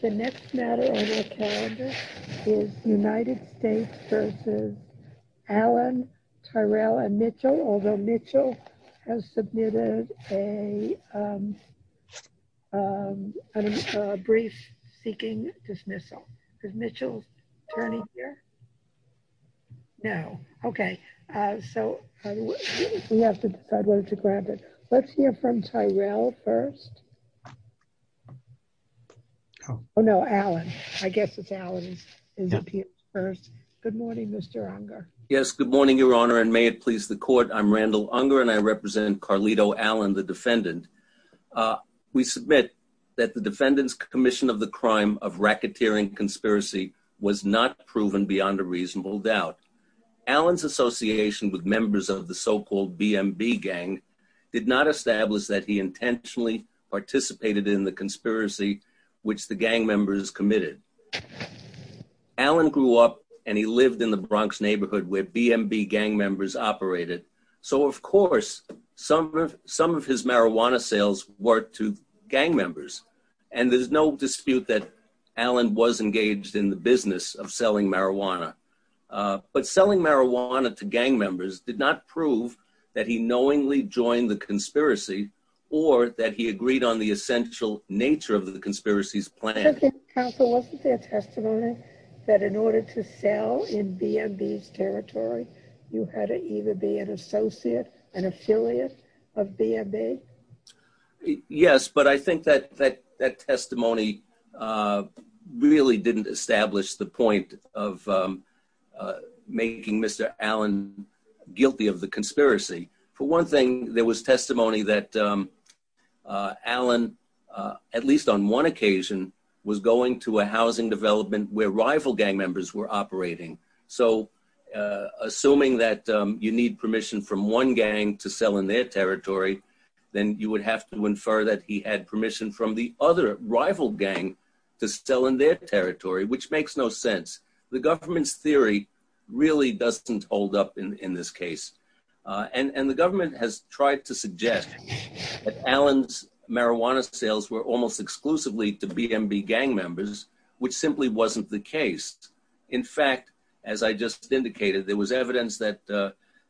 The next matter on the calendar is United States v. Allen, Tyrell, and Mitchell, although Mitchell has submitted a brief seeking dismissal. Is Mitchell's attorney here? No. Okay. So We have to decide whether to grab it. Let's hear from Tyrell first. Oh no, Allen. I guess it's Allen first. Good morning, Mr. Unger. Yes, good morning, Your Honor, and may it please the court. I'm Randall Unger and I represent Carlito Allen, the defendant. We submit that the defendant's commission of the crime of racketeering conspiracy was not proven beyond a reasonable doubt. Allen's association with members of the so-called BMB gang did not establish that he intentionally participated in the conspiracy which the gang members committed. Allen grew up and he lived in the Bronx neighborhood where BMB gang members operated, so of course some of his marijuana sales were to gang members, and there's no dispute that Allen was engaged in the business of selling marijuana, but selling marijuana to gang members did not prove that he knowingly joined the conspiracy or that he agreed on the essential nature of the conspiracy's plan. So then counsel, wasn't there testimony that in order to sell in BMB's territory, you had to either be an associate, an affiliate of BMB? Yes, but I think that that testimony really didn't establish the point of making Mr. Allen guilty of the conspiracy. For one thing, there was testimony that Allen, at least on one occasion, was going to a housing development where rival gang members were operating. So assuming that you need permission from one gang to sell in their territory, then you would have to infer that he had permission from the other rival gang to sell in their territory, which makes no sense. The government's theory really doesn't hold up in this case, and the government has tried to suggest that Allen's marijuana sales were almost exclusively to BMB gang members, which simply wasn't the case. In fact, as I just indicated, there was evidence that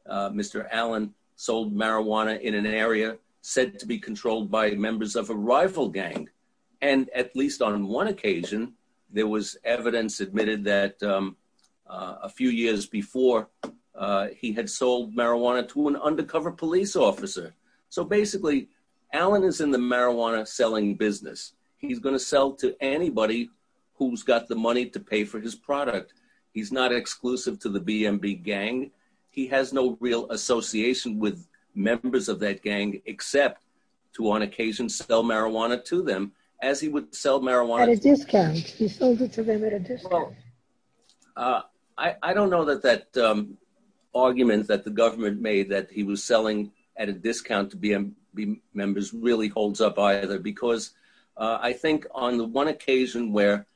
Mr. Allen sold marijuana in an area said to be controlled by members of a rival gang. And at least on one occasion, there was evidence admitted that a few years before he had sold marijuana to an undercover police officer. So basically, Allen is in the marijuana selling business. He's going to sell to anybody who's got the money to pay for his product. He's not exclusive to the BMB gang. He has no real association with members of that gang, except to on occasion sell marijuana to them, as he would sell marijuana at a discount. I don't know that that argument that the government made that he was selling at a discount, because I think on the one occasion where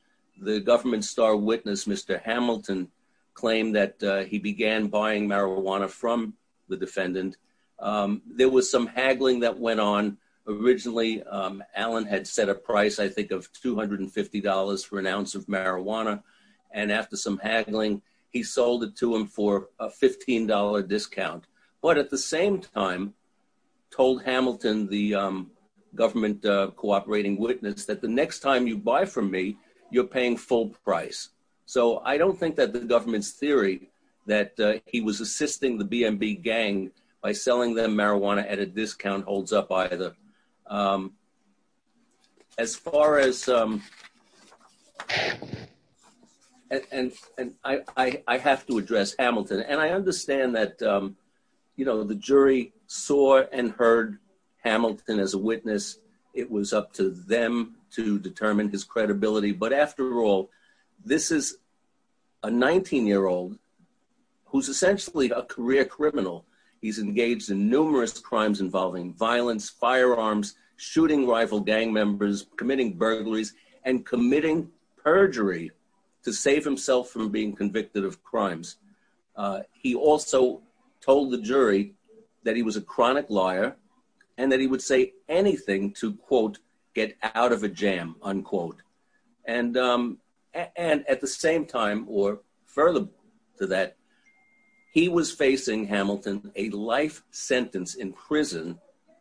the government star witness, Mr. Hamilton, claimed that he began buying marijuana from the defendant, there was some haggling that went on. Originally, Allen had set a price, I think, of $250 for an ounce of marijuana. And after some haggling, he sold it to him for a $15 discount. But at the same time, told Hamilton, the government cooperating witness, that the next time you buy from me, you're paying full price. So I don't think that the government's theory that he was assisting the BMB gang by selling them marijuana at a discount holds up either. As far as, and I have to address Hamilton, and I understand that the jury saw and heard Hamilton as a witness, it was up to them to determine his credibility. But after all, this is a 19-year-old who's essentially a career criminal. He's engaged in numerous crimes involving violence, firearms, shooting rival gang members, committing burglaries, and committing perjury to save himself from being convicted of crimes. He also told the jury that he was a chronic liar, and that he would say anything to, quote, get out of a jam, unquote. And at the same time, or further to that, he was facing Hamilton a life sentence in prison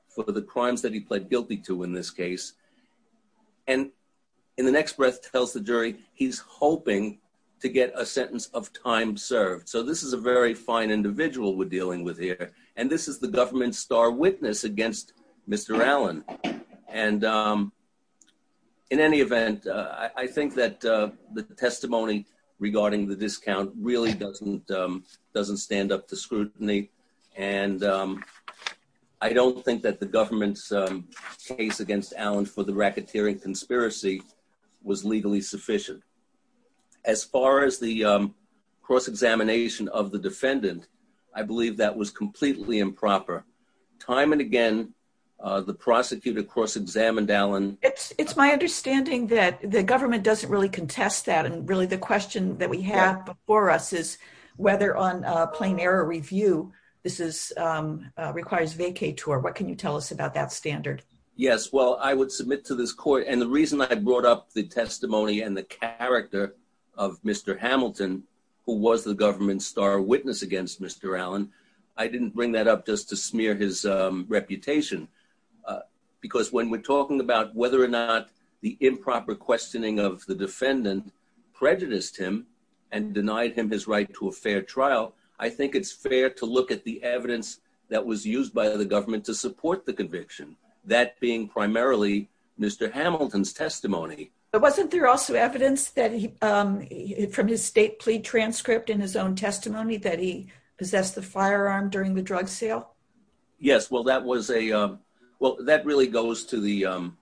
for the crimes that he pled guilty to in this case. And in the next breath tells the jury he's hoping to get a sentence of time served. So this is a very fine individual we're dealing with here. And this is the government's star witness against Mr. Allen. And in any event, I think that the testimony regarding the discount really doesn't stand up to scrutiny. And I don't think that the government's case against Allen for the racketeering conspiracy was legally sufficient. As far as the cross-examination of the defendant, I believe that was completely improper. Time and again, the prosecutor cross-examined Allen. It's my understanding that the government doesn't really contest that. And really, the question that we have before us is whether on Yes, well, I would submit to this court. And the reason I brought up the testimony and the character of Mr. Hamilton, who was the government's star witness against Mr. Allen, I didn't bring that up just to smear his reputation. Because when we're talking about whether or not the improper questioning of the defendant prejudiced him and denied him his right to a fair trial, I think it's fair to look at the evidence that was used by the government to that being primarily Mr. Hamilton's testimony. But wasn't there also evidence that he from his state plea transcript in his own testimony that he possessed the firearm during the drug sale? Yes, well, that was a well, that really goes to the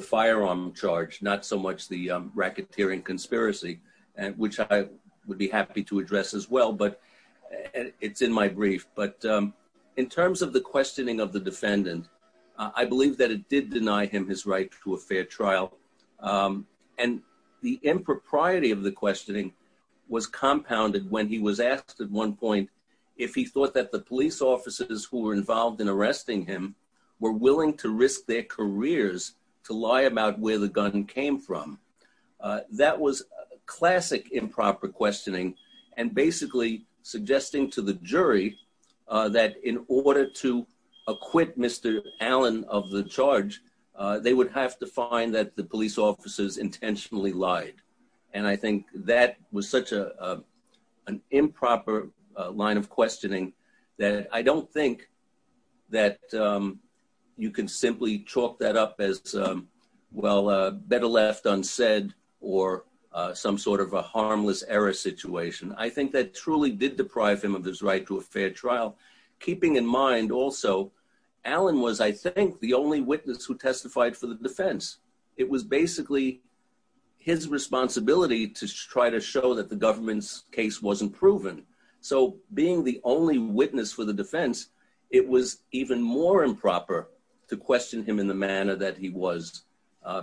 firearm charge, not so much the racketeering conspiracy, and which I would be happy to address as well. But it's in my brief. But in terms of the questioning of the defendant, I believe that it did deny him his right to a fair trial. And the impropriety of the questioning was compounded when he was asked at one point, if he thought that the police officers who were involved in arresting him were willing to risk their careers to lie about where the gun came from. That was classic improper questioning, and basically suggesting to the jury that in order to acquit Mr. Allen of the charge, they would have to find that the police officers intentionally lied. And I think that was such a, an improper line of questioning that I don't think that you can simply chalk that up as, well, better left unsaid, or some sort of a harmless error situation. I think that truly did deprive him of his right to a fair trial. Keeping in mind also, Allen was, I think, the only witness who testified for the defense. It was basically his responsibility to try to show that the government's case wasn't proven. So being the only witness for the defense, it was even more improper to question him in the manner that he was,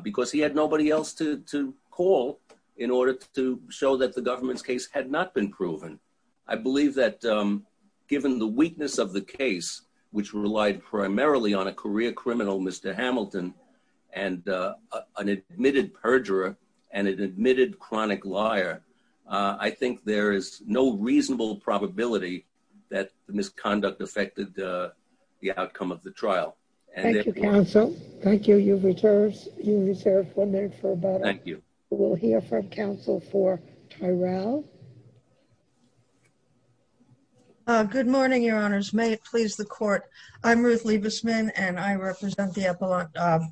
because he had nobody else to call in order to show that the government's case had not been proven. I believe that given the weakness of the case, which relied primarily on a career criminal, Mr. Hamilton, and an admitted perjurer, and an admitted chronic liar, I think there is no reasonable probability that the misconduct affected the outcome of the trial. Thank you, counsel. Thank you. You've reserved one minute for about... Thank you. We'll hear from counsel for Tyrell. Good morning, your honors. May it please the court. I'm Ruth Liebesman, and I represent the defense. What needs to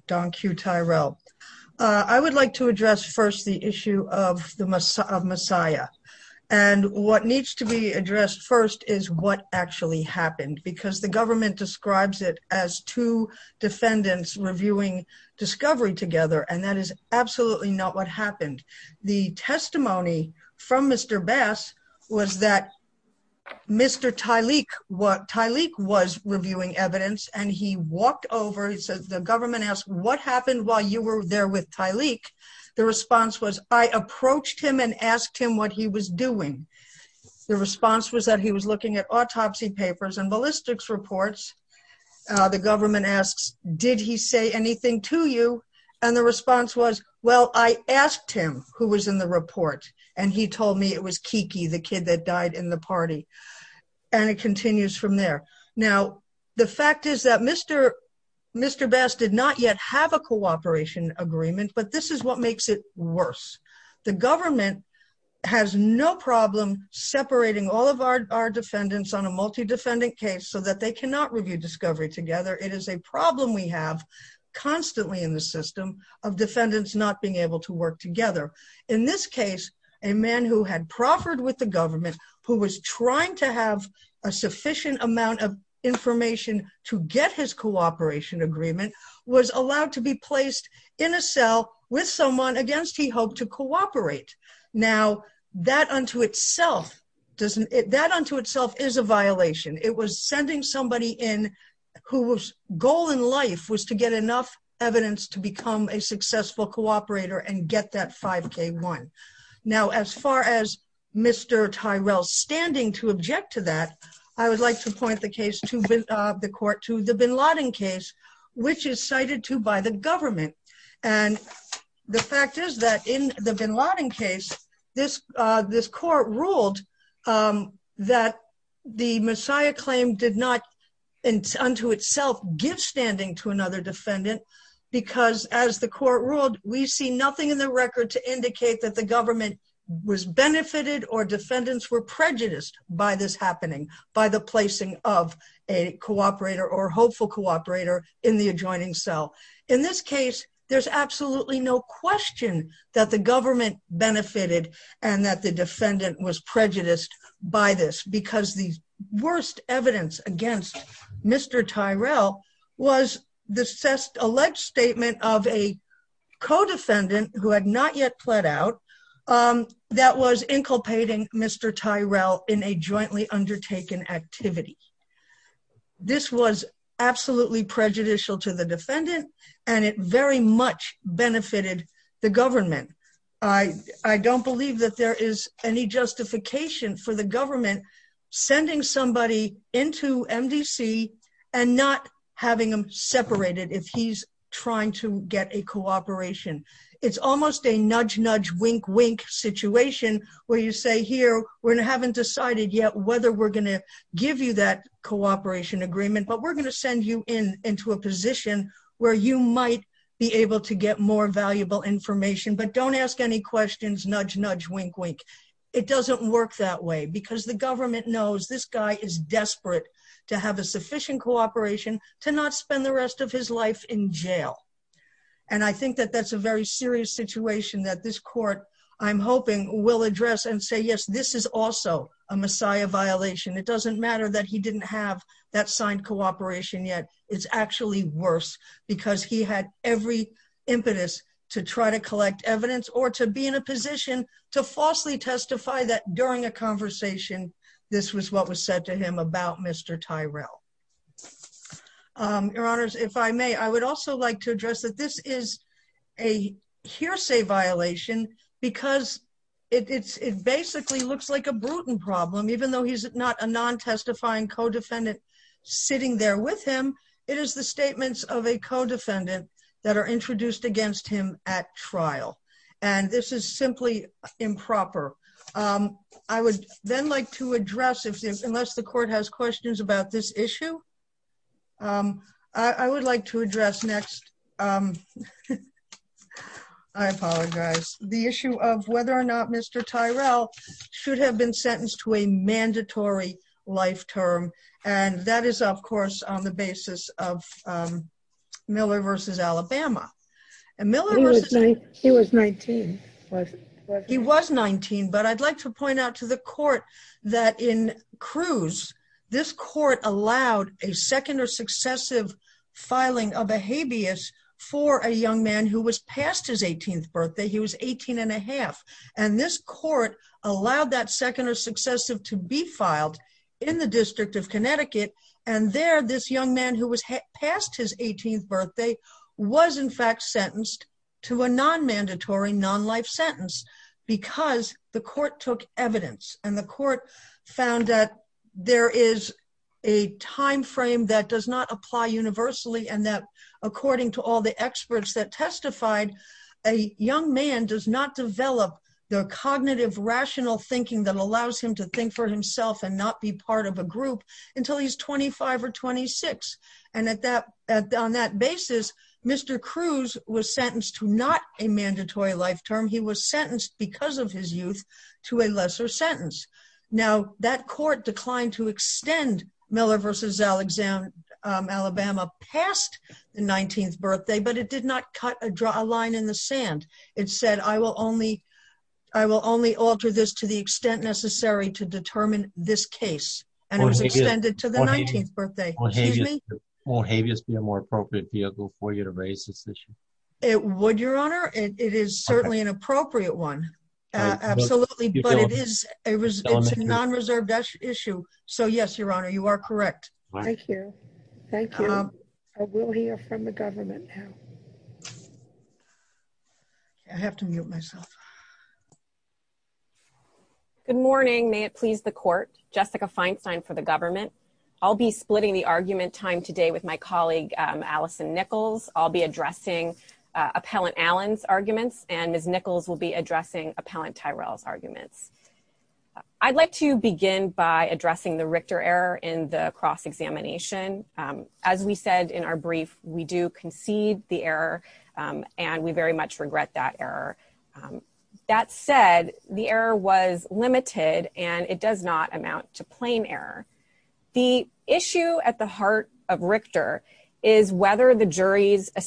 be addressed first is what actually happened, because the government describes it as two defendants reviewing discovery together, and that is absolutely not what happened. The testimony from Mr. Bass was that Mr. Tyleek was reviewing evidence, and he walked over, he says, the government asked, what happened while you were there with Tyleek? The response was, I approached him and asked him what he was doing. The response was that he was looking at autopsy papers and ballistics reports. The government asks, did he say anything to you? And the response was, well, I asked him who was in the report, and he told me it was Kiki, the kid that died in the party. And it continues from there. Now, the fact is that Mr. Bass did not yet have a cooperation agreement, but this is what makes it worse. The government has no problem separating all of our defendants on a multi-defendant case so that they cannot review discovery together. It is a problem we have constantly in the system of defendants not being able to work together. In this case, a man who had proffered with the government, who was trying to have a sufficient amount of with someone against he hoped to cooperate. Now, that unto itself is a violation. It was sending somebody in whose goal in life was to get enough evidence to become a successful cooperator and get that 5K1. Now, as far as Mr. Tyrell standing to object to that, I would like to point the court to the Bin Laden case, which is cited to by the government. And the fact is that in the Bin Laden case, this court ruled that the Messiah claim did not unto itself give standing to another defendant because as the court ruled, we see nothing in the record to indicate that the government was benefited or defendants were prejudiced by this happening, by the placing of a cooperator or hopeful cooperator in the adjoining cell. In this case, there's absolutely no question that the government benefited and that the defendant was prejudiced by this because the worst evidence against Mr. Tyrell was the alleged statement of a co-defendant who had not yet pled out that was inculpating Mr. Tyrell in a jointly undertaken activity. This was absolutely prejudicial to the defendant and it very much benefited the government. I don't believe that there is any justification for the government sending somebody into MDC and not having them separated if he's trying to get a cooperation. It's almost a nudge, give you that cooperation agreement, but we're going to send you into a position where you might be able to get more valuable information, but don't ask any questions, nudge, nudge, wink, wink. It doesn't work that way because the government knows this guy is desperate to have a sufficient cooperation to not spend the rest of his life in jail. And I think that that's a very serious situation that this court, I'm hoping, will address and this is also a Messiah violation. It doesn't matter that he didn't have that signed cooperation yet. It's actually worse because he had every impetus to try to collect evidence or to be in a position to falsely testify that during a conversation, this was what was said to him about Mr. Tyrell. Your honors, if I may, I would also like to address that this is a hearsay violation because it basically looks like a Bruton problem, even though he's not a non-testifying co-defendant sitting there with him. It is the statements of a co-defendant that are introduced against him at trial and this is simply improper. I would then like to address, unless the court has questions about this issue, I would like to address next, I apologize, the issue of whether or not Mr. Tyrell should have been sentenced to a mandatory life term and that is, of course, on the basis of Miller v. Alabama. He was 19. He was 19, but I'd like to point out to the court that in Cruz, this court allowed a second or successive filing of a habeas for a young man who was past his 18th birthday. He was 18 and a half and this court allowed that second or successive to be filed in the District of Connecticut and there this young man who was past his 18th birthday was in fact sentenced to a non-mandatory non-life sentence because the court took evidence and the court found that there is a time frame that does not apply universally and that according to all the experts that testified, a young man does not develop the cognitive rational thinking that allows him to think for himself and not be part of a group until he's 25 or 26 and on that basis, Mr. Cruz was sentenced to not a mandatory life term. He was sentenced because of his youth to a lesser sentence. Now, that court declined to extend Miller v. Alabama past the 19th birthday, but it did not cut a line in the sand. It said, I will only alter this to the extent necessary to determine this case and it was extended to the 19th birthday. Won't habeas be a more appropriate vehicle for you to raise this issue? It would, your honor. It is certainly an appropriate one. Absolutely, but it is a non-reserved issue. So, yes, your honor, you are correct. Thank you. Thank you. I will hear from the government now. I have to mute myself. Good morning. May it please the court. Jessica Feinstein for the government. I'll be splitting the argument time today with my colleague, Allison Nichols. I'll be addressing Appellant Allen's arguments and Ms. Nichols will be addressing Appellant Tyrell's arguments. I'd like to begin by addressing the Richter error in the cross-examination. As we said in our brief, we do concede the error and we very much regret that error. That said, the error was limited and it does not amount to plain error. The issue at the heart of Richter is whether the jury's of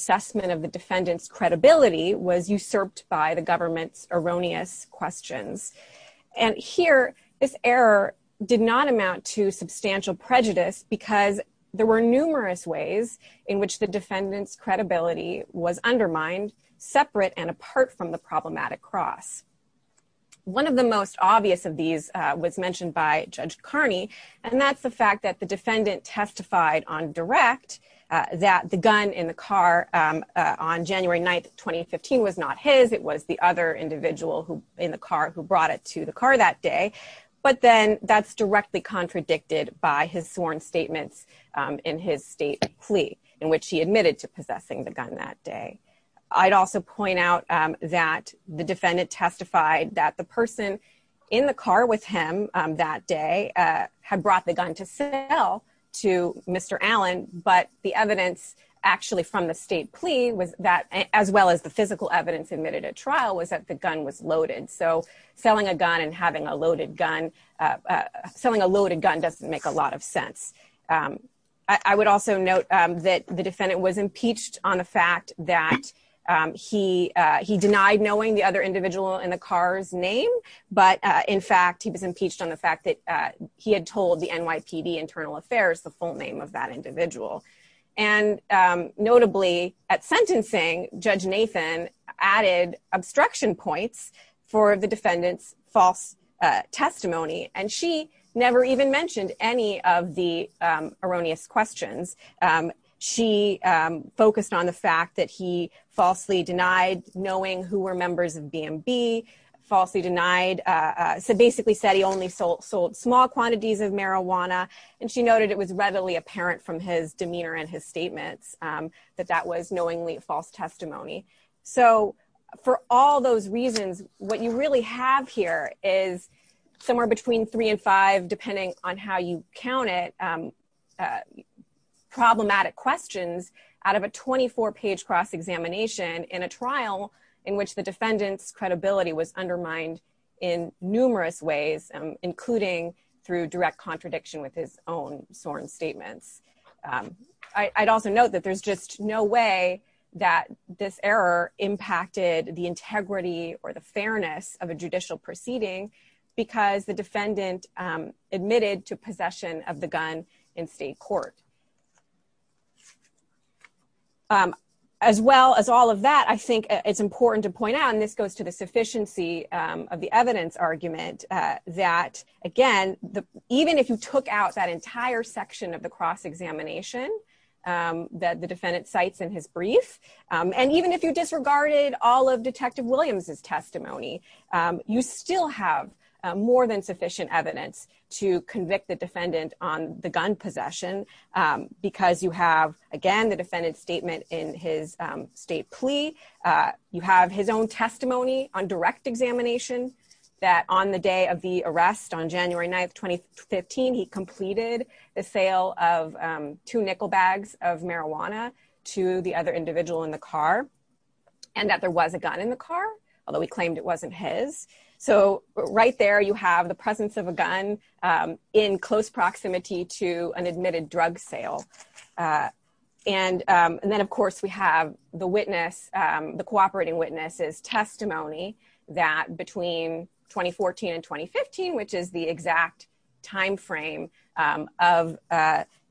the defendant's credibility was usurped by the government's erroneous questions. And here, this error did not amount to substantial prejudice because there were numerous ways in which the defendant's credibility was undermined, separate and apart from the problematic cross. One of the most obvious of these was mentioned by Judge Carney, and that's the fact that the on January 9th, 2015, was not his. It was the other individual who in the car who brought it to the car that day. But then that's directly contradicted by his sworn statements in his state plea in which he admitted to possessing the gun that day. I'd also point out that the defendant testified that the person in the car with him that day had brought the gun to sell to Mr. Allen, but the evidence actually from the state plea was that as well as the physical evidence admitted at trial was that the gun was loaded. So selling a gun and having a loaded gun, selling a loaded gun doesn't make a lot of sense. I would also note that the defendant was impeached on the fact that he denied knowing the other individual in the car's name. But in fact, he was impeached on the fact that he had told the NYPD Internal Affairs the full name of that individual. And notably, at sentencing, Judge Nathan added obstruction points for the defendant's false testimony, and she never even mentioned any of the erroneous questions. She focused on the fact that he falsely denied knowing who were members of BNB, falsely denied, so basically said he only sold small quantities of marijuana, and she noted it was readily apparent from his demeanor and his statements that that was knowingly false testimony. So for all those reasons, what you really have here is somewhere between three and five, depending on how you count it, problematic questions out of a 24-page cross-examination in a trial in which the defendant's credibility was undermined in numerous ways, including through direct contradiction with his own sworn statements. I'd also note that there's just no way that this error impacted the integrity or the fairness of a judicial proceeding because the defendant admitted to possession of the gun in state court. As well as all of that, I think it's important to point out, and this goes to the sufficiency of the evidence argument, that again, even if you took out that entire section of the cross-examination that the defendant cites in his brief, and even if you disregarded all of Detective Williams' testimony, you still have more than sufficient evidence to convict the defendant on the gun possession because you have, again, the defendant's statement in his state plea. You have his own testimony on direct examination that on the day of the arrest, on January 9th, 2015, he completed the sale of two nickel bags of marijuana to the other individual in the car, and that there was a gun in the car, although he claimed it wasn't his. Right there, you have the presence of a gun in close proximity to an admitted drug sale. And then, of course, we have the witness, the cooperating witness's testimony that between 2014 and 2015, which is the exact time frame of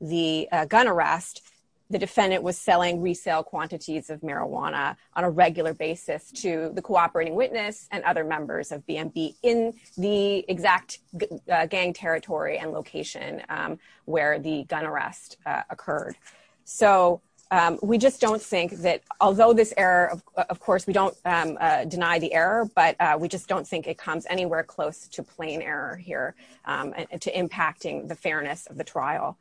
the gun arrest, the defendant was selling resale quantities of marijuana on a regular basis to the cooperating witness and other members of BNB in the exact gang territory and location where the gun arrest occurred. So, we just don't think that, although this error, of course, we don't deny the error, but we just don't think it comes anywhere close to plain error here, to impacting the fairness of the trial.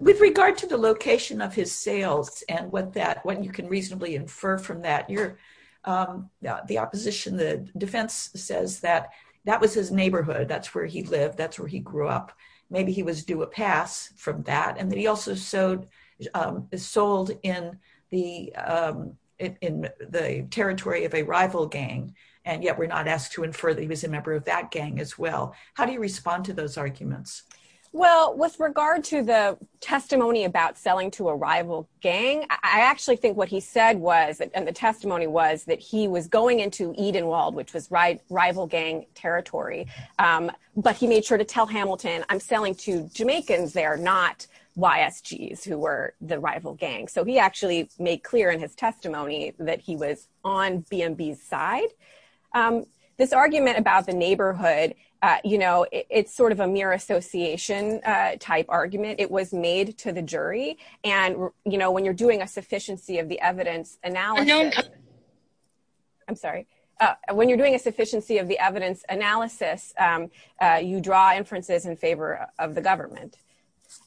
With regard to the location of his sales and what you can reasonably infer from that, the opposition, the defense says that that was his neighborhood, that's where he lived, that's where he grew up. Maybe he was due a pass from that, and that he also sold in the territory of a rival gang, and yet we're not asked to infer that he was a member of that gang as well. How do you respond to those arguments? Well, with regard to the testimony about selling to a rival gang, I actually think what he said was, and the testimony was, that he was going into Edenwald, which was rival gang territory, but he made sure to tell Hamilton, I'm selling to Jamaicans there, not YSGs, who were the rival gang. So, he actually made clear in his testimony that he was on BNB's side. This argument about the neighborhood, you know, it's sort of a mere association type argument. It was made to the jury, and when you're doing a sufficiency of the evidence analysis, you draw inferences in favor of the government.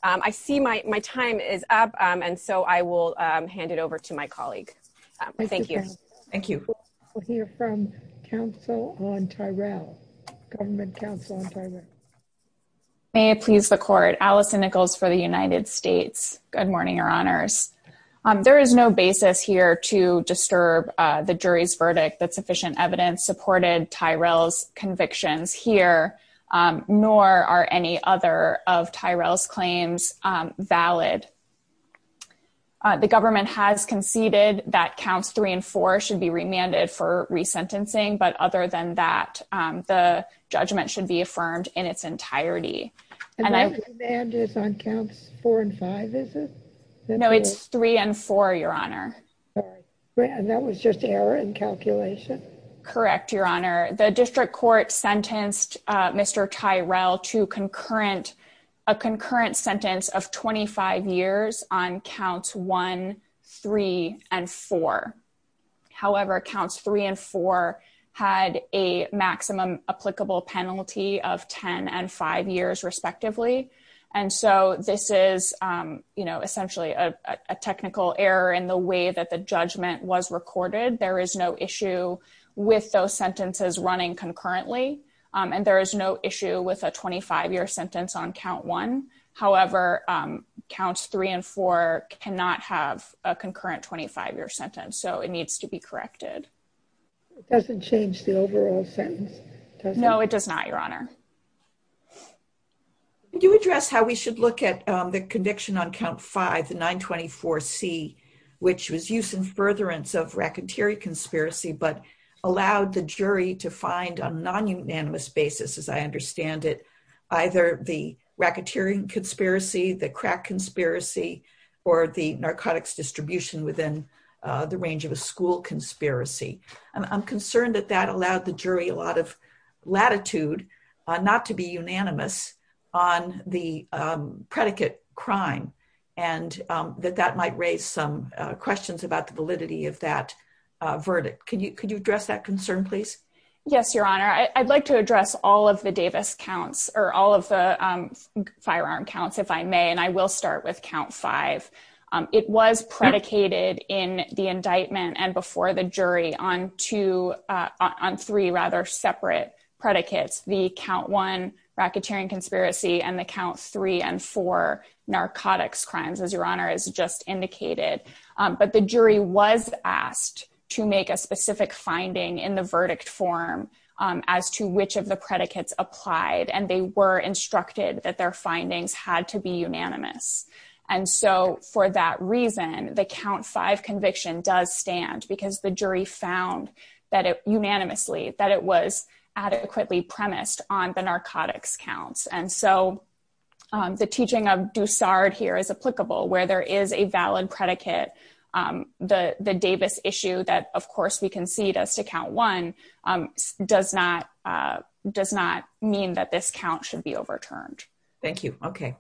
I see my time is up, and so I will hand it over to my colleague. Thank you. Thank you. We'll hear from counsel on Tyrell, government counsel on Tyrell. May it please the court. Allison Nichols for the United States. Good morning, your honors. There is no basis here to disturb the jury's verdict that sufficient evidence supported Tyrell's convictions here, nor are any other of Tyrell's claims valid. The government has conceded that counts three and four should be remanded for resentencing, but other than that, the judgment should be affirmed in its entirety. And I'm on counts four and five. No, it's three and four, your honor. That was just error in calculation. Correct, your honor. The district court sentenced Mr. Tyrell to a concurrent sentence of 25 years on counts one, three, and four. However, counts three and four had a maximum applicable penalty of 10 and five years, respectively. And so this is essentially a technical error in the way that the judgment was recorded. There is no issue with those sentences running concurrently. And there is no issue with a 25-year sentence on count one. However, counts three and four cannot have a concurrent 25-year sentence, so it needs to be corrected. It doesn't change the overall sentence. No, it does not, your honor. Could you address how we should look at the conviction on count five, the 924C, which was used in furtherance of racketeering conspiracy, but allowed the jury to find on non-unanimous basis, as I understand it, either the racketeering conspiracy, the crack conspiracy, or the narcotics distribution within the range of a school conspiracy. I'm concerned that that allowed the jury a lot of latitude not to be unanimous on the predicate crime and that that raised some questions about the validity of that verdict. Could you address that concern, please? Yes, your honor. I'd like to address all of the Davis counts or all of the firearm counts, if I may, and I will start with count five. It was predicated in the indictment and before the jury on three rather separate predicates, the count one racketeering conspiracy and the count three and four narcotics crimes, as your honor has just indicated. But the jury was asked to make a specific finding in the verdict form as to which of the predicates applied, and they were instructed that their findings had to be unanimous. And so for that reason, the count five conviction does stand because the jury found that it unanimously, that it was adequately premised on the narcotics counts. And so the teaching of Dusard here is applicable, where there is a valid predicate. The Davis issue that of course we concede as to count one does not mean that this count should be overturned. Thank you. Okay.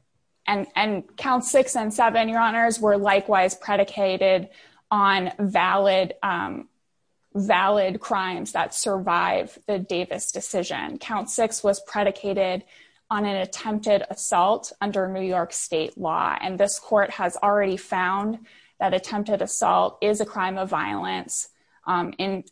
And count six and seven, your honors, were likewise predicated on valid crimes that survive the Davis decision. Count six was predicated on an attempted assault under New York state law. And this court has already found that attempted assault is a crime of violence in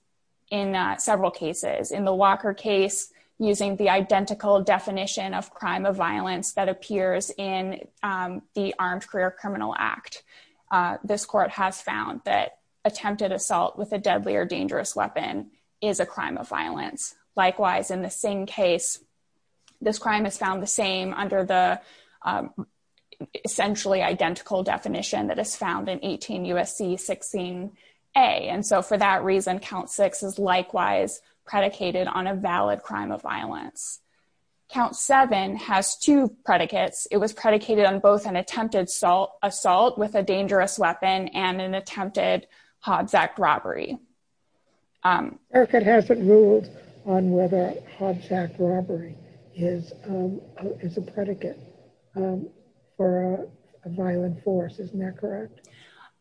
several cases. In the Walker case, using the identical definition of crime of violence that appears in the Armed Career Criminal Act, this court has found that attempted assault with a Likewise, in the Singh case, this crime is found the same under the essentially identical definition that is found in 18 U.S.C. 16A. And so for that reason, count six is likewise predicated on a valid crime of violence. Count seven has two predicates. It was predicated on both an attempted assault with a dangerous weapon and an attempted Hobbs Act robbery. Eric, it hasn't ruled on whether Hobbs Act robbery is a predicate for a violent force, isn't that correct?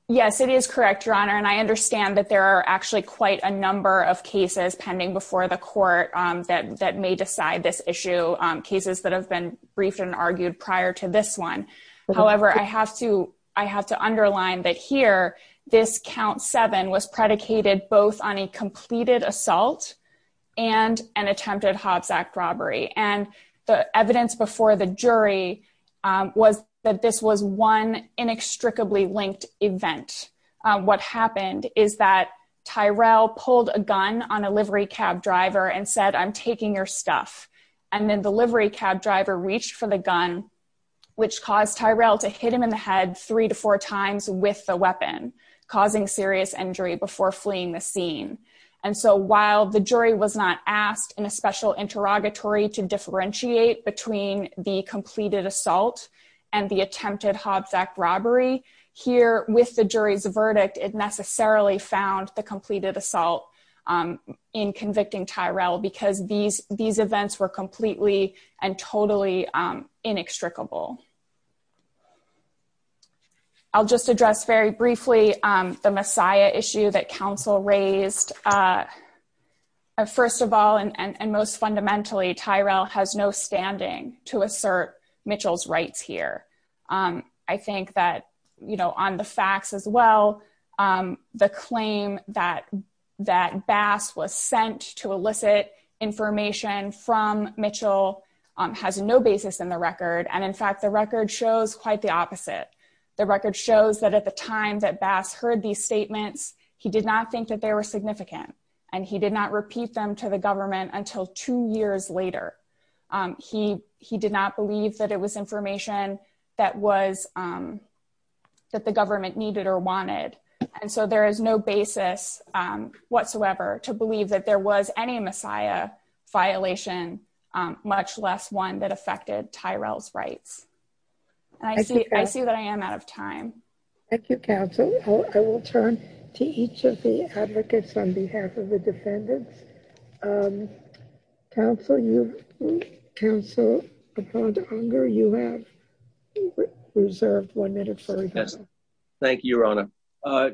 Yes, it is correct, your honor. And I understand that there are actually quite a number of cases pending before the court that may decide this issue, cases that have been briefed and argued prior to this one. However, I have to underline that here, this count seven was predicated both on a completed assault and an attempted Hobbs Act robbery. And the evidence before the jury was that this was one inextricably linked event. What happened is that Tyrell pulled a gun on a livery cab driver and said, I'm taking your stuff. And then the livery cab driver reached for the gun, which caused Tyrell to hit him in the head three to four times with the weapon, causing serious injury before fleeing the scene. And so while the jury was not asked in a special interrogatory to differentiate between the completed assault and the attempted Hobbs Act robbery, here with the jury's verdict, it necessarily found the completed assault in convicting Tyrell because these events were completely and totally inextricable. I'll just address very briefly the messiah issue that counsel raised. First of all, and most fundamentally, Tyrell has no standing to assert Mitchell's rights here. I think that, you know, on the facts as well, the claim that Bass was sent to elicit information from Mitchell has no basis in the record. And in fact, the record shows quite the opposite. The record shows that at the time that Bass heard these statements, he did not think that they were significant. And he did not repeat them to the government until two years later. He did not believe that it was information that the government needed or wanted. And so there is no basis whatsoever to believe that there was any messiah violation, much less one that affected Tyrell's rights. I see that I am out of time. Thank you, counsel. I will turn to each of the advocates on behalf of the defendants. Counsel, you have reserved one minute. Thank you, Your Honor.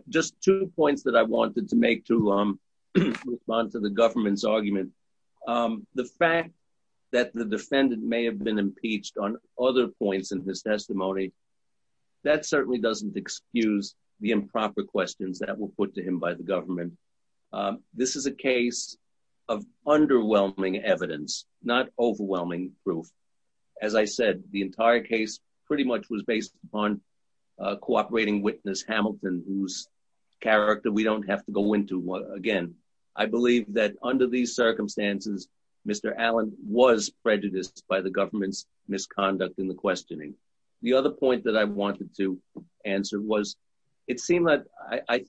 Just two points that I wanted to make to respond to the government's argument. The fact that the defendant may have been impeached on other points in his testimony, that certainly doesn't excuse the improper questions that were put to him by the government. This is a case of underwhelming evidence, not overwhelming proof. As I said, the entire case pretty much was based upon a cooperating witness, Hamilton, whose character we don't have to go into again. I believe that under these circumstances, Mr. Allen was prejudiced by the government's misconduct in the questioning. The other point that I wanted to answer was, it seemed that I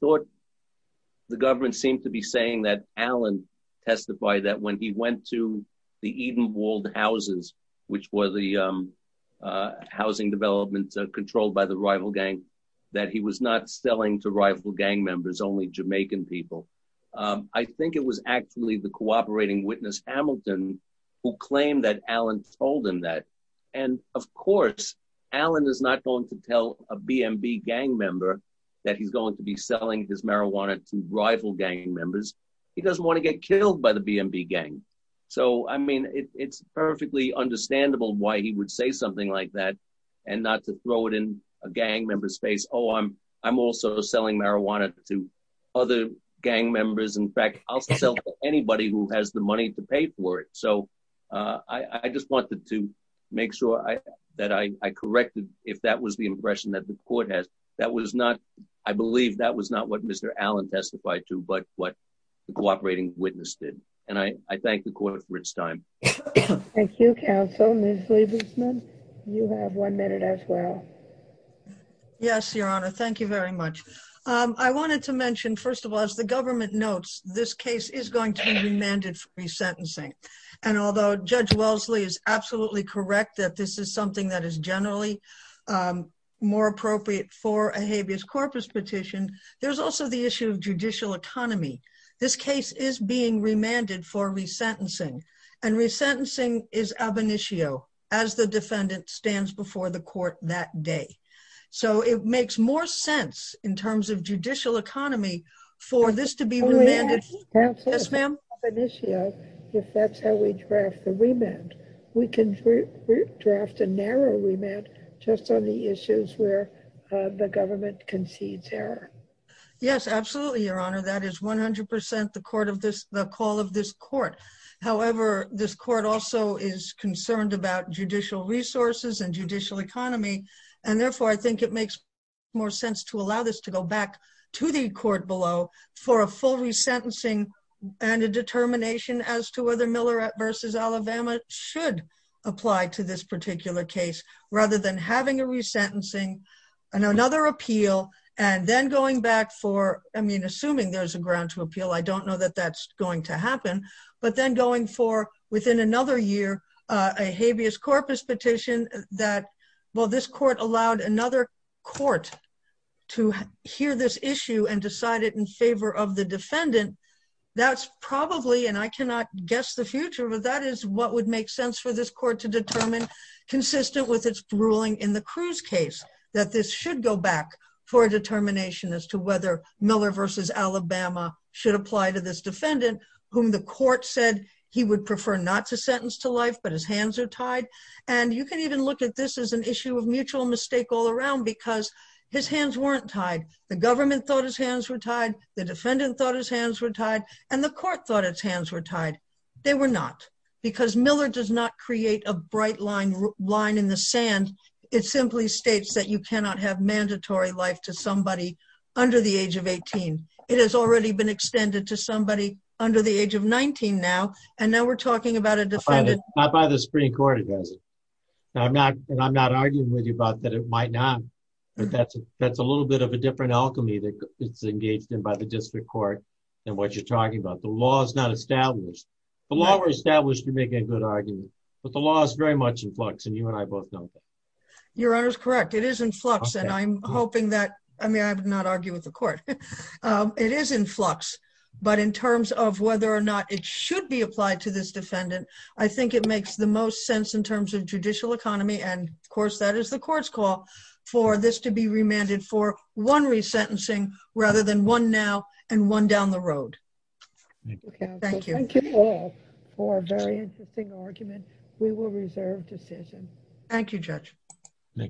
seemed to be saying that Allen testified that when he went to the Edenwald houses, which were the housing developments controlled by the rival gang, that he was not selling to rival gang members, only Jamaican people. I think it was actually the cooperating witness, Hamilton, who claimed that Allen told him that. And of course, Allen is not going to tell a BNB gang member that he's going to be selling his marijuana to rival gang members. He doesn't want to get killed by the BNB gang. So, I mean, it's perfectly understandable why he would say something like that and not to throw it in a gang member's face. Oh, I'm also selling marijuana to other gang members. In fact, I'll sell to anybody who has the money to pay for it. So, I just wanted to make sure that I corrected if that was the impression that the court has. That was not, I believe that was not what Mr. Allen testified to, but what the cooperating witness did. And I thank the court for its time. Thank you, counsel. Ms. Lieberman, you have one minute as well. Yes, your honor. Thank you very much. I wanted to mention, first of all, as the government notes, this case is going to be remanded for resentencing. And although Judge Wellesley is absolutely correct that this is something that is generally more appropriate for a habeas corpus petition, there's also the issue of judicial economy. This case is being remanded for resentencing and resentencing is ab initio as the defendant stands before the court that day. So, it makes more sense in terms of judicial economy for this to be remanded. Yes, ma'am. Ab initio, if that's how we draft the remand, we can draft a narrow remand just on the issues where the government concedes error. Yes, absolutely, your honor. That is 100% the court of this, the call of this court. However, this court also is concerned about judicial resources and judicial economy. And therefore, I think it makes more sense to allow this to go back to the court below for a full resentencing and a determination as to whether Miller v. Alabama should apply to this particular case rather than having a resentencing and another appeal and then going back for, I mean, assuming there's a ground to appeal, I don't know that that's going to happen, but then going for within another year, a habeas corpus petition that, well, this court allowed another court to hear this that's probably, and I cannot guess the future, but that is what would make sense for this court to determine consistent with its ruling in the Cruz case that this should go back for a determination as to whether Miller v. Alabama should apply to this defendant whom the court said he would prefer not to sentence to life, but his hands are tied. And you can even look at this as an issue of mutual mistake all around because his hands weren't tied. The government thought his hands were tied and the court thought his hands were tied. They were not because Miller does not create a bright line in the sand. It simply states that you cannot have mandatory life to somebody under the age of 18. It has already been extended to somebody under the age of 19 now, and now we're talking about a defendant- Not by the Supreme Court, it doesn't. And I'm not arguing with you about that it might not, but that's a little bit of a different alchemy that it's engaged in by the district court than what you're talking about. The law is not established. The law were established to make a good argument, but the law is very much in flux, and you and I both know that. Your Honor is correct. It is in flux, and I'm hoping that, I mean, I would not argue with the court. It is in flux, but in terms of whether or not it should be applied to this defendant, I think it makes the most sense in terms of judicial economy, and of course that is the and one down the road. Thank you. Thank you all for a very interesting argument. We will reserve decision. Thank you, Judge. Thank you.